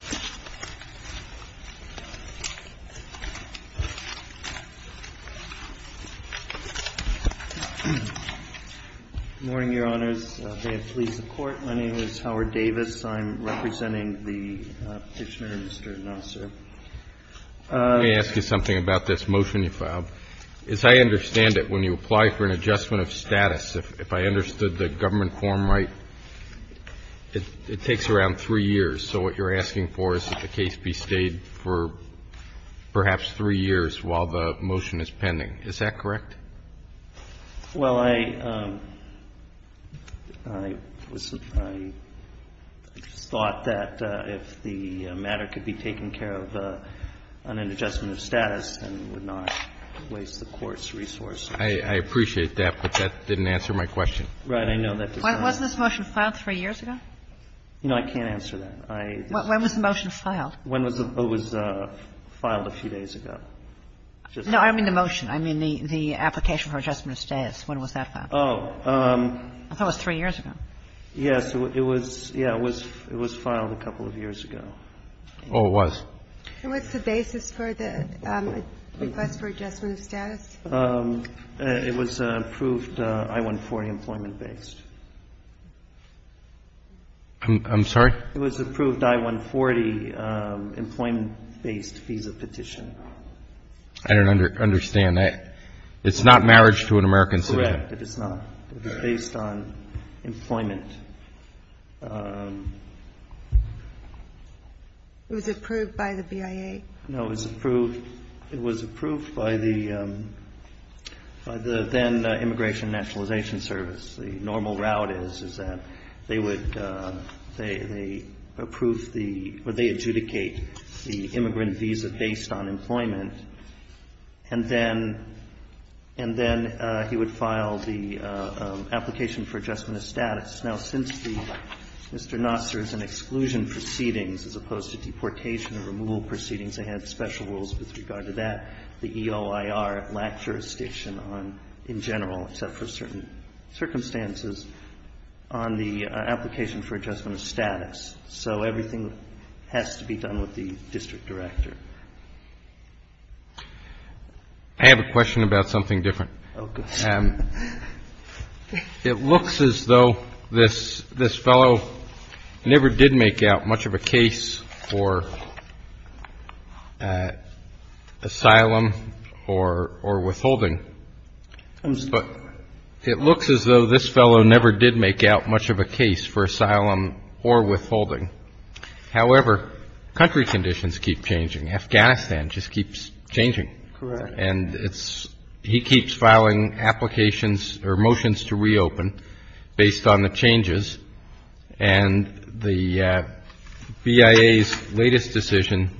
Good morning, Your Honors. May it please the Court, my name is Howard Davis. I'm representing the Petitioner, Mr. Nassar. Let me ask you something about this motion you filed. As I understand it, when you apply for an adjustment of status, if I understood the government quorum right, it takes around 3 years. So what you're asking for is that the case be stayed for perhaps 3 years while the motion is pending. Is that correct? NASSAR Well, I thought that if the matter could be taken care of on an adjustment of status, then it would not waste the Court's resources. ASHCROFT I appreciate that, but that didn't answer my question. Kagan Right. I know that. Kagan Wasn't this motion filed 3 years ago? NASSAR You know, I can't answer that. Kagan When was the motion filed? NASSAR It was filed a few days ago. Kagan No, I don't mean the motion. I mean the application for adjustment of status. When was that filed? NASSAR Oh. Kagan I thought it was 3 years ago. NASSAR Yes. It was, yeah, it was filed a couple of years ago. Roberts Oh, it was. Ginsburg What's the basis for the request for adjustment of status? NASSAR It was approved I-140 employment-based. Alito I'm sorry? NASSAR It was approved I-140 employment-based visa petition. Alito I don't understand. It's not marriage to an American citizen. NASSAR Correct. It is not. It is based on employment. Ginsburg It was approved by the BIA? NASSAR No, it was approved by the then Immigration and Nationalization Service. The normal route is, is that they would, they approve the, or they adjudicate the immigrant visa based on employment, and then he would file the application for adjustment of status. Now, since Mr. Nassar is in exclusion proceedings as opposed to deportation or removal proceedings, they had special rules with regard to that. The EOIR lacked jurisdiction on, in general, except for certain circumstances, on the application for adjustment of status. So everything has to be done with the district director. Roberts I have a question about something different. Nassar Oh, go ahead. Roberts It looks as though this fellow never did make out much of a case for asylum or withholding. It looks as though this fellow never did make out much of a case for asylum or withholding. However, country conditions keep changing. Afghanistan just keeps changing. Nassar Correct. Roberts And it's, he keeps filing applications or motions to reopen based on the changes, and the BIA's latest decision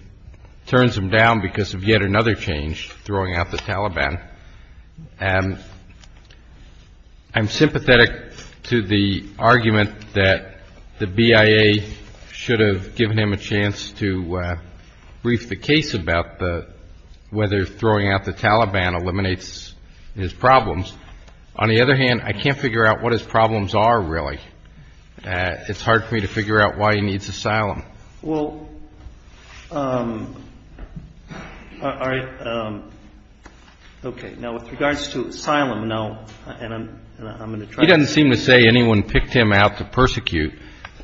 turns him down because of yet another change, throwing out the Taliban. I'm sympathetic to the argument that the BIA should have given him a chance to brief the case about whether throwing out the Taliban eliminates his problems. On the other hand, I can't figure out what his problems are, really. It's hard for me to figure out why he needs asylum. Nassar Well, all right. Okay. Now, with regards to asylum, now, and I'm going to try to ---- Roberts He doesn't seem to say anyone picked him out to persecute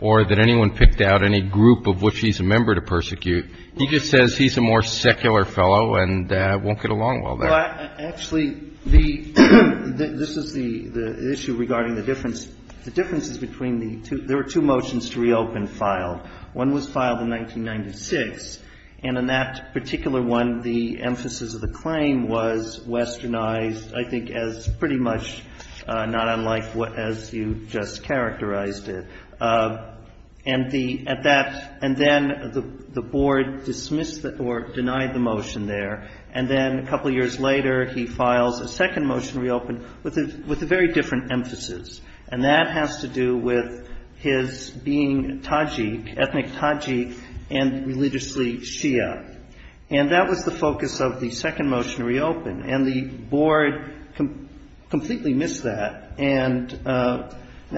or that anyone picked out any group of which he's a member to persecute. He just says he's a more secular fellow and won't get along well there. Nassar Well, actually, the ---- this is the issue regarding the difference. The difference is between the two ---- there were two motions to reopen filed. One was filed in 1996, and in that particular one, the emphasis of the claim was westernized, I think, as pretty much not unlike what ---- as you just characterized it. And the ---- at that ---- and then the board dismissed or denied the motion there, and then a couple of years later, he files a second motion to reopen with a very different emphasis, and that has to do with his being Tajik, ethnic Tajik, and religiously Shia. And that was the focus of the second motion to reopen, and the board completely missed that.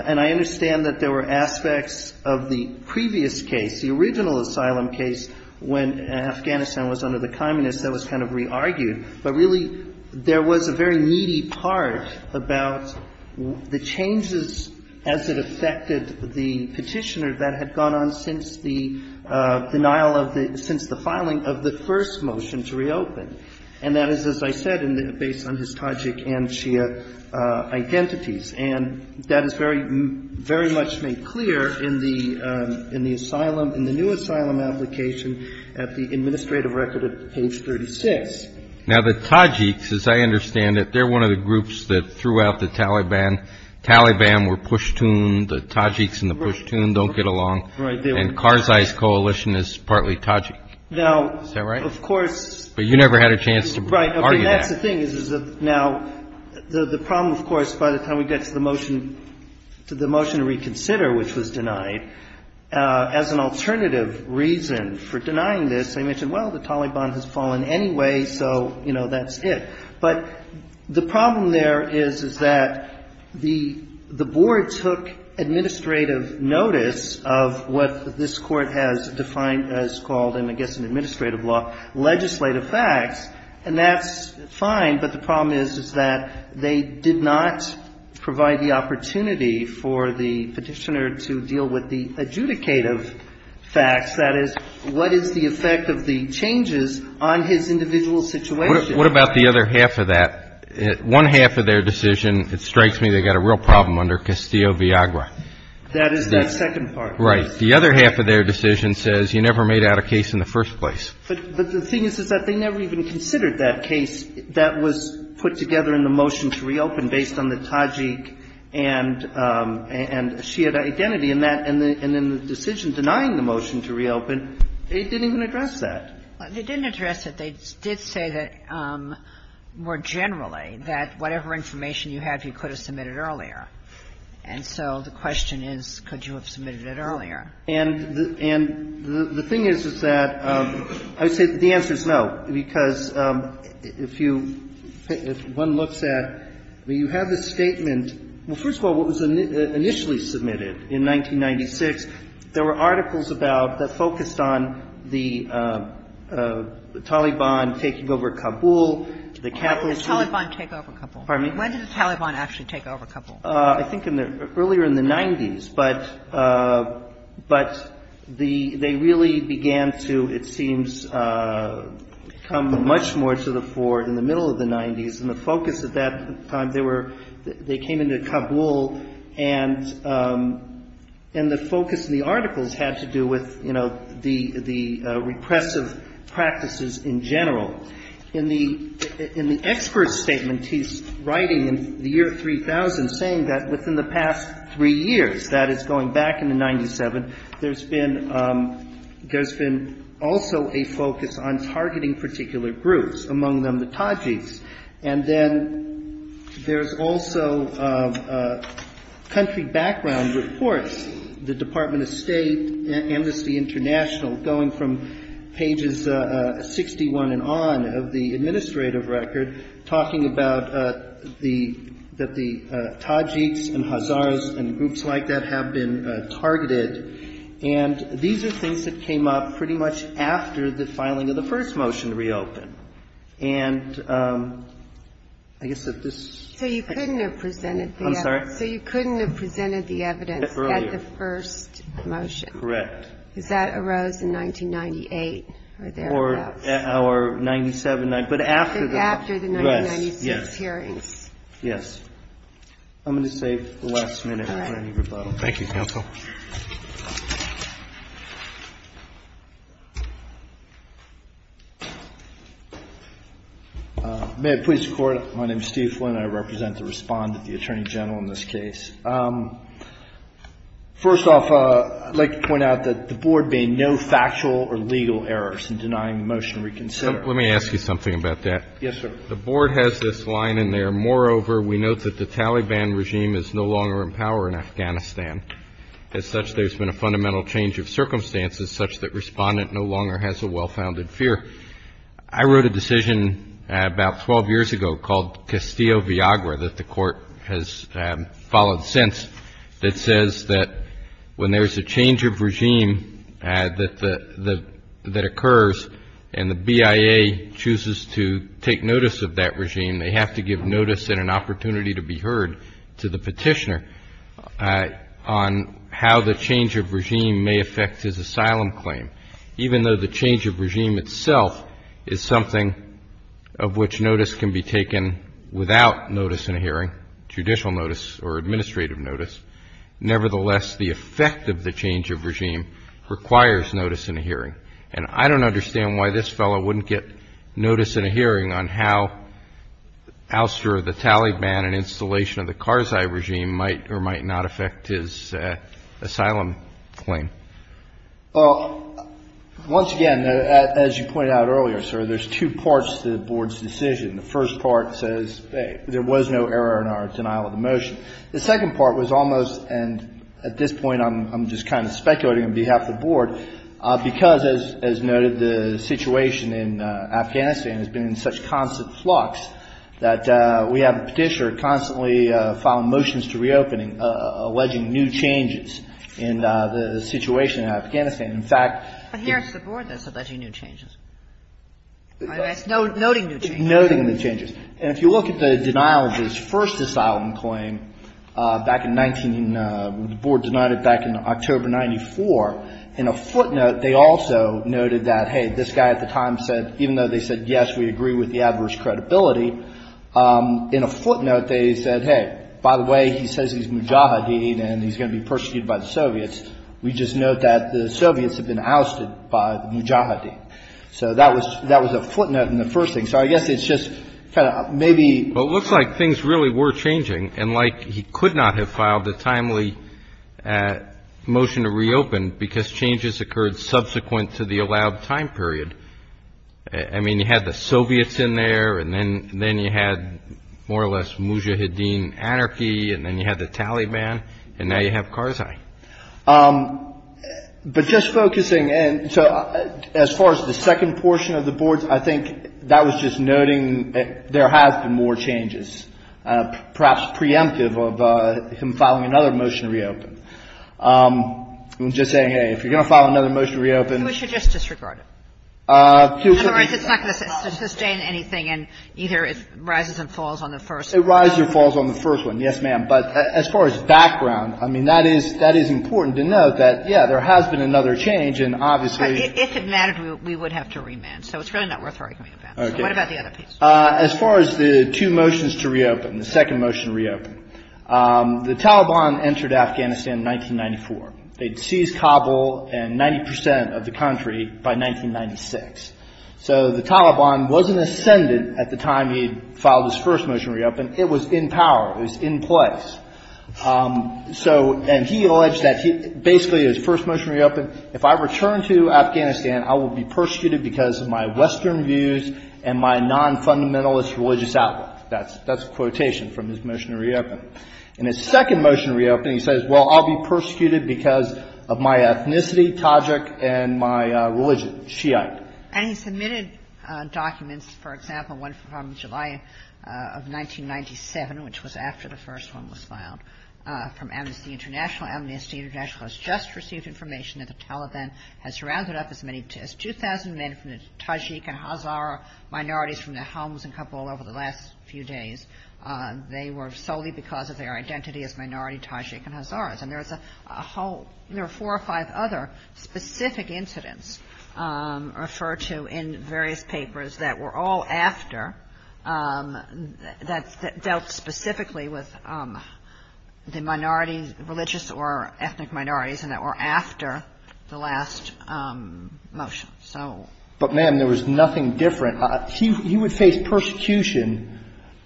And I understand that there were aspects of the previous case, the original asylum case, when Afghanistan was under the communists that was kind of re-argued, but really there was a very needy part about the changes as it affected the petitioner that had gone on since the denial of the ---- since the filing of the first motion to reopen. And that is, as I said, based on his Tajik and Shia identities. And that is very, very much made clear in the asylum, in the new asylum application at the administrative record at page 36. Now, the Tajiks, as I understand it, they're one of the groups that threw out the Taliban. Taliban were push-tuned. The Tajiks and the push-tuned don't get along. Right. And Karzai's coalition is partly Tajik. Now ---- Is that right? Of course. But you never had a chance to argue that. Right. I mean, that's the thing, is that now the problem, of course, by the time we get to the motion to reconsider, which was denied, as an alternative reason for denying this, I mentioned, well, the Taliban has fallen anyway, so, you know, that's it. But the problem there is, is that the board took administrative notice of what this Court has defined as called, I mean, I guess an administrative law, legislative facts, and that's fine. But the problem is, is that they did not provide the opportunity for the Petitioner to deal with the adjudicative facts, that is, what is the effect of the changes on his individual situation. What about the other half of that? One half of their decision, it strikes me they got a real problem under Castillo-Viagra. That is that second part. Right. The other half of their decision says you never made out a case in the first place. But the thing is, is that they never even considered that case that was put together in the motion to reopen based on the Tajik and Shia identity in that. And then the decision denying the motion to reopen, it didn't even address that. They didn't address it. They did say that, more generally, that whatever information you have, you could have submitted earlier. And so the question is, could you have submitted it earlier? And the thing is, is that I would say the answer is no, because if you, if one looks at, I mean, you have the statement. Well, first of all, what was initially submitted in 1996, there were articles about, that focused on the Taliban taking over Kabul, the capitalists. The Taliban take over Kabul. Pardon me? When did the Taliban actually take over Kabul? I think in the, earlier in the 90s. But, but the, they really began to, it seems, come much more to the fore in the middle of the 90s. And the focus at that time, they were, they came into Kabul. And, and the focus of the articles had to do with, you know, the, the repressive practices in general. In the, in the expert statement he's writing in the year 3000 saying that within the past three years, that is going back into 97, there's been, there's been also a focus on targeting particular groups, among them the Tajiks. And then there's also country background reports, the Department of State, Embassy International, going from pages 61 and on of the administrative record, talking about the, that the Tajiks and Hazars and groups like that have been targeted. And these are things that came up pretty much after the filing of the first motion reopened. And I guess that this. So you couldn't have presented the evidence. I'm sorry? So you couldn't have presented the evidence at the first motion. Correct. Because that arose in 1998, or thereabouts. Or, or 97, but after the. After the 1996 hearings. Yes. Yes. I'm going to save the last minute for any rebuttal. Thank you, counsel. May I please record? My name is Steve Flynn. I represent the respondent, the Attorney General in this case. First off, I'd like to point out that the Board made no factual or legal errors in denying the motion reconsidered. Let me ask you something about that. Yes, sir. The Board has this line in there, Moreover, we note that the Taliban regime is no longer in power in Afghanistan. As such, there's been a fundamental change of circumstances such that Respondent no longer has a well-founded fear. I wrote a decision about 12 years ago called Castillo-Villagra that the court has followed since, that says that when there's a change of regime that occurs and the BIA chooses to take notice of that regime, they have to give notice and an opportunity to be heard to the petitioner on how the change of regime may affect his asylum claim. Even though the change of regime itself is something of which notice can be taken without notice in a hearing, judicial notice or administrative notice, nevertheless, the effect of the change of regime requires notice in a hearing. And I don't understand why this fellow wouldn't get notice in a hearing on how ouster of the Taliban and installation of the Karzai regime might or might not affect his asylum claim. Well, once again, as you pointed out earlier, sir, there's two parts to the Board's decision. The first part says there was no error in our denial of the motion. The second part was almost, and at this point I'm just kind of speculating on behalf of the Board, because, as noted, the situation in Afghanistan has been in such constant flux that we have a petitioner constantly filing motions to reopening alleging new changes in the situation in Afghanistan. In fact the Board is alleging new changes, noting new changes. Noting new changes. And if you look at the denial of his first asylum claim back in 19 — the Board denied it back in October of 1994. In a footnote, they also noted that, hey, this guy at the time said, even though they said, yes, we agree with the adverse credibility, in a footnote they said, hey, by the way, he says he's mujahideen and he's going to be persecuted by the Soviets. We just note that the Soviets have been ousted by the mujahideen. So that was a footnote in the first thing. So I guess it's just kind of maybe — And like he could not have filed a timely motion to reopen because changes occurred subsequent to the allowed time period. I mean, you had the Soviets in there, and then you had more or less mujahideen anarchy, and then you had the Taliban, and now you have Karzai. But just focusing — so as far as the second portion of the Board, I think that was just noting there has been more changes. Perhaps preemptive of him filing another motion to reopen. I'm just saying, hey, if you're going to file another motion to reopen — We should just disregard it. In other words, it's not going to sustain anything, and either it rises and falls on the first — It rises or falls on the first one, yes, ma'am. But as far as background, I mean, that is — that is important to note that, yeah, there has been another change, and obviously — But if it mattered, we would have to remand. So it's really not worth arguing about. Okay. So what about the other piece? As far as the two motions to reopen, the second motion to reopen, the Taliban entered Afghanistan in 1994. They'd seized Kabul and 90 percent of the country by 1996. So the Taliban wasn't ascended at the time he'd filed his first motion to reopen. It was in power. It was in place. So — and he alleged that he — basically, his first motion to reopen, if I return to Afghanistan, I will be persecuted because of my Western views and my non-fundamentalist religious outlook. That's a quotation from his motion to reopen. In his second motion to reopen, he says, well, I'll be persecuted because of my ethnicity, Tajik, and my religion, Shiite. And he submitted documents, for example, one from July of 1997, which was after the first one was filed, from Amnesty International. Amnesty International has just received information that the Taliban had surrounded up as many — as 2,000 men from the Tajik and Hazara minorities from their homes in Kabul over the last few days. They were solely because of their identity as minority Tajik and Hazaras. And there was a whole — there were four or five other specific incidents referred to in various papers that were all after — dealt specifically with the minorities, religious or ethnic minorities, and that were after the last motion. So — But, ma'am, there was nothing different. He would face persecution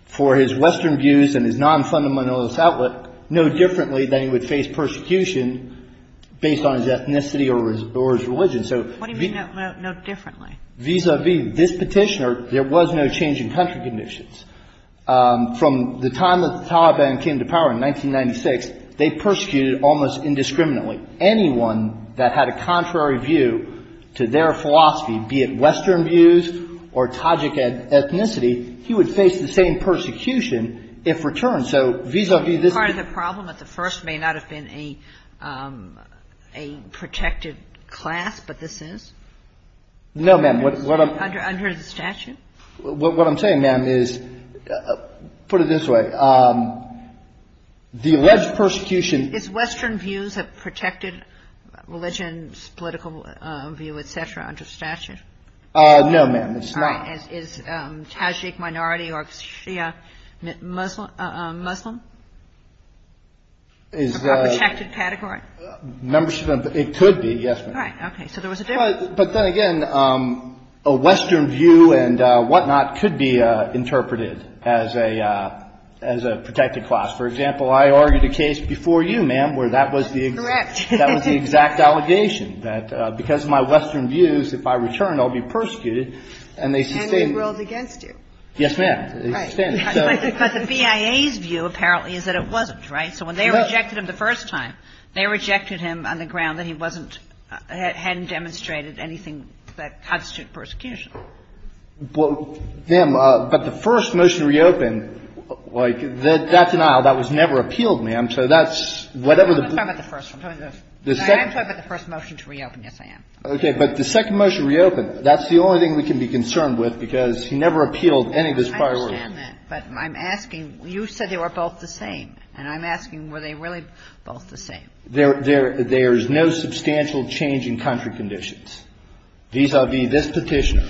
for his Western views and his non-fundamentalist outlook no differently than he would face persecution based on his ethnicity or his — or his religion. So — What do you mean, no differently? Vis-a-vis. Vis-a-vis this petitioner, there was no change in country conditions. From the time that the Taliban came to power in 1996, they persecuted almost indiscriminately. Anyone that had a contrary view to their philosophy, be it Western views or Tajik ethnicity, he would face the same persecution if returned. So vis-a-vis this — Part of the problem at the first may not have been a protected class, but this is? No, ma'am. What I'm — Under the statute? What I'm saying, ma'am, is — put it this way. The alleged persecution — Is Western views a protected religion, political view, et cetera, under statute? No, ma'am, it's not. All right. Is Tajik minority or Shia Muslim? Is — A protected category? Membership — it could be, yes, ma'am. All right. Okay. So there was a difference. But then again, a Western view and whatnot could be interpreted as a — as a protected class. For example, I argued a case before you, ma'am, where that was the — Correct. That was the exact allegation, that because of my Western views, if I return, I'll be persecuted, and they sustained — And they ruled against you. Yes, ma'am. Right. But the BIA's view, apparently, is that it wasn't, right? So when they rejected him the first time, they rejected him on the ground that he wasn't — hadn't demonstrated anything that constituted persecution. Well, ma'am, but the first motion to reopen, like, that denial, that was never appealed, ma'am. So that's — I'm not talking about the first. I'm talking about the second. I'm talking about the first motion to reopen. Yes, I am. Okay. But the second motion to reopen, that's the only thing we can be concerned with, because he never appealed any of his prior work. I understand that. But I'm asking — you said they were both the same. And I'm asking, were they really both the same? There's no substantial change in country conditions vis-à-vis this petition.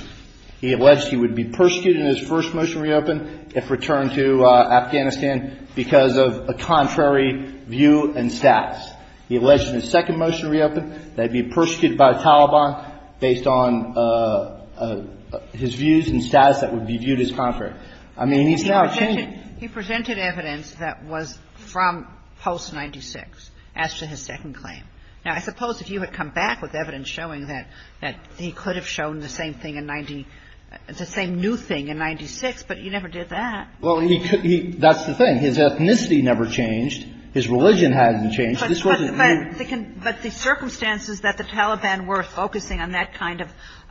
He alleged he would be persecuted in his first motion to reopen if returned to Afghanistan because of a contrary view and status. He alleged in his second motion to reopen that he'd be persecuted by a Taliban based on his views and status that would be viewed as contrary. I mean, he's now changing. He presented evidence that was from post-'96 as to his second claim. Now, I suppose if you had come back with evidence showing that he could have shown the same thing in — the same new thing in-'96, but he never did that. Well, he — that's the thing. His ethnicity never changed. His religion hasn't changed. This wasn't new. But the circumstances that the Taliban were focusing on, that kind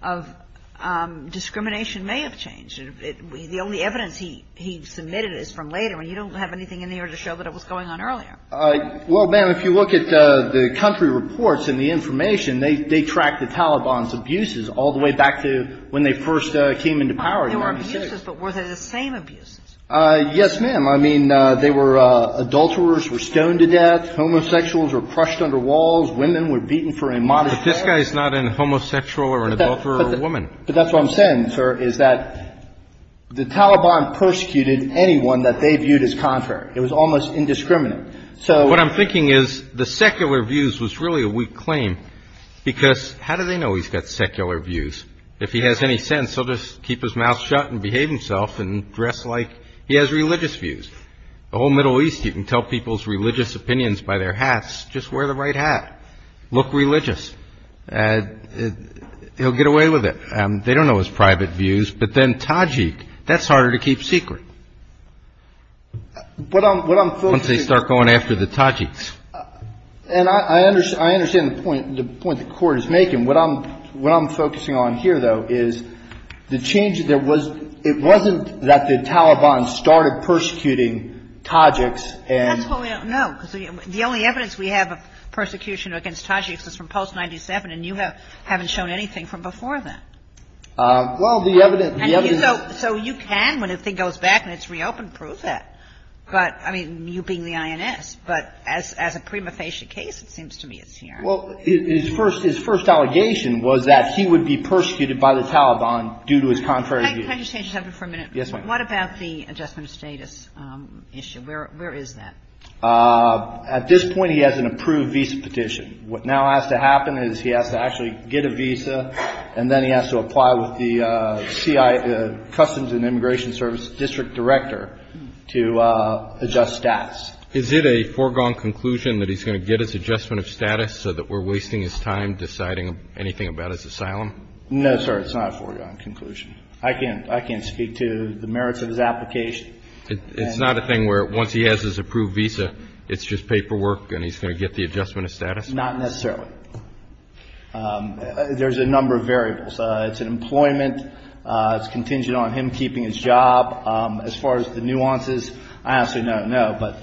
of discrimination may have changed. The only evidence he submitted is from later. And you don't have anything in there to show that it was going on earlier. Well, ma'am, if you look at the country reports and the information, they track the Taliban's abuses all the way back to when they first came into power in 1996. There were abuses, but were they the same abuses? Yes, ma'am. I mean, they were — adulterers were stoned to death. Homosexuals were crushed under walls. Women were beaten for a modest — But this guy is not a homosexual or an adulterer woman. But that's what I'm saying, sir, is that the Taliban persecuted anyone that they viewed as contrary. It was almost indiscriminate. So — What I'm thinking is the secular views was really a weak claim because how do they know he's got secular views? If he has any sense, he'll just keep his mouth shut and behave himself and dress like he has religious views. The whole Middle East, you can tell people's religious opinions by their hats. Just wear the right hat. Look religious. He'll get away with it. They don't know his private views. But then Tajik, that's harder to keep secret. Once they start going after the Tajiks. And I understand the point the Court is making. What I'm focusing on here, though, is the change that there was — it wasn't that the Taliban started persecuting Tajiks and — That's what we don't know. The only evidence we have of persecution against Tajiks is from post-'97, and you haven't shown anything from before then. Well, the evidence — So you can, when the thing goes back and it's reopened, prove that. But, I mean, you being the INS. But as a prima facie case, it seems to me it's here. Well, his first — his first allegation was that he would be persecuted by the Taliban due to his contrary views. Can I just change the subject for a minute? Yes, ma'am. What about the adjustment of status issue? Where is that? At this point, he has an approved visa petition. What now has to happen is he has to actually get a visa, and then he has to apply with the CI — Customs and Immigration Service district director to adjust stats. Is it a foregone conclusion that he's going to get his adjustment of status so that we're wasting his time deciding anything about his asylum? No, sir, it's not a foregone conclusion. I can't speak to the merits of his application. It's not a thing where once he has his approved visa, it's just paperwork and he's going to get the adjustment of status? Not necessarily. There's a number of variables. It's employment. It's contingent on him keeping his job. As far as the nuances, I honestly don't know. But,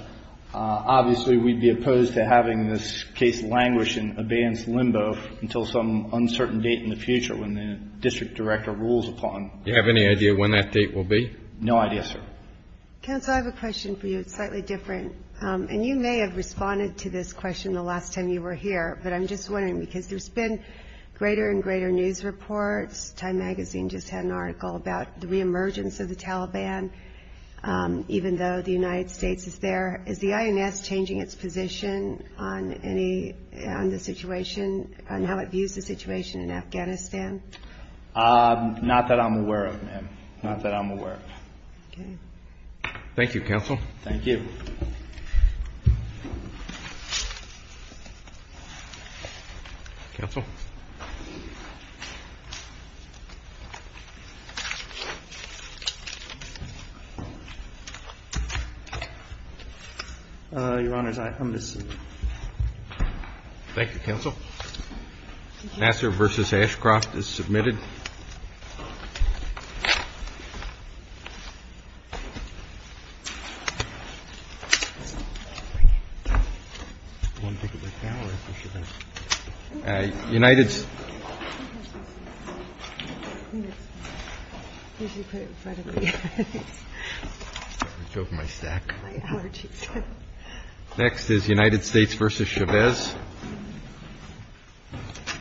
obviously, we'd be opposed to having this case languish in abeyance limbo until some uncertain date in the future when the district director rules upon. Do you have any idea when that date will be? No idea, sir. Counsel, I have a question for you. It's slightly different. And you may have responded to this question the last time you were here, but I'm just wondering, because there's been greater and greater news reports. Time magazine just had an article about the reemergence of the Taliban, even though the United States is there. Is the INS changing its position on any — on the situation, on how it views the situation in Afghanistan? Not that I'm aware of, ma'am. Not that I'm aware of. Okay. Thank you, Counsel. Thank you. Counsel? Your Honors, I'm missing. Thank you, Counsel. Thank you. Nassar v. Ashcroft is submitted. United — I choked my stack. Next is United States v. Chavez. Thank you.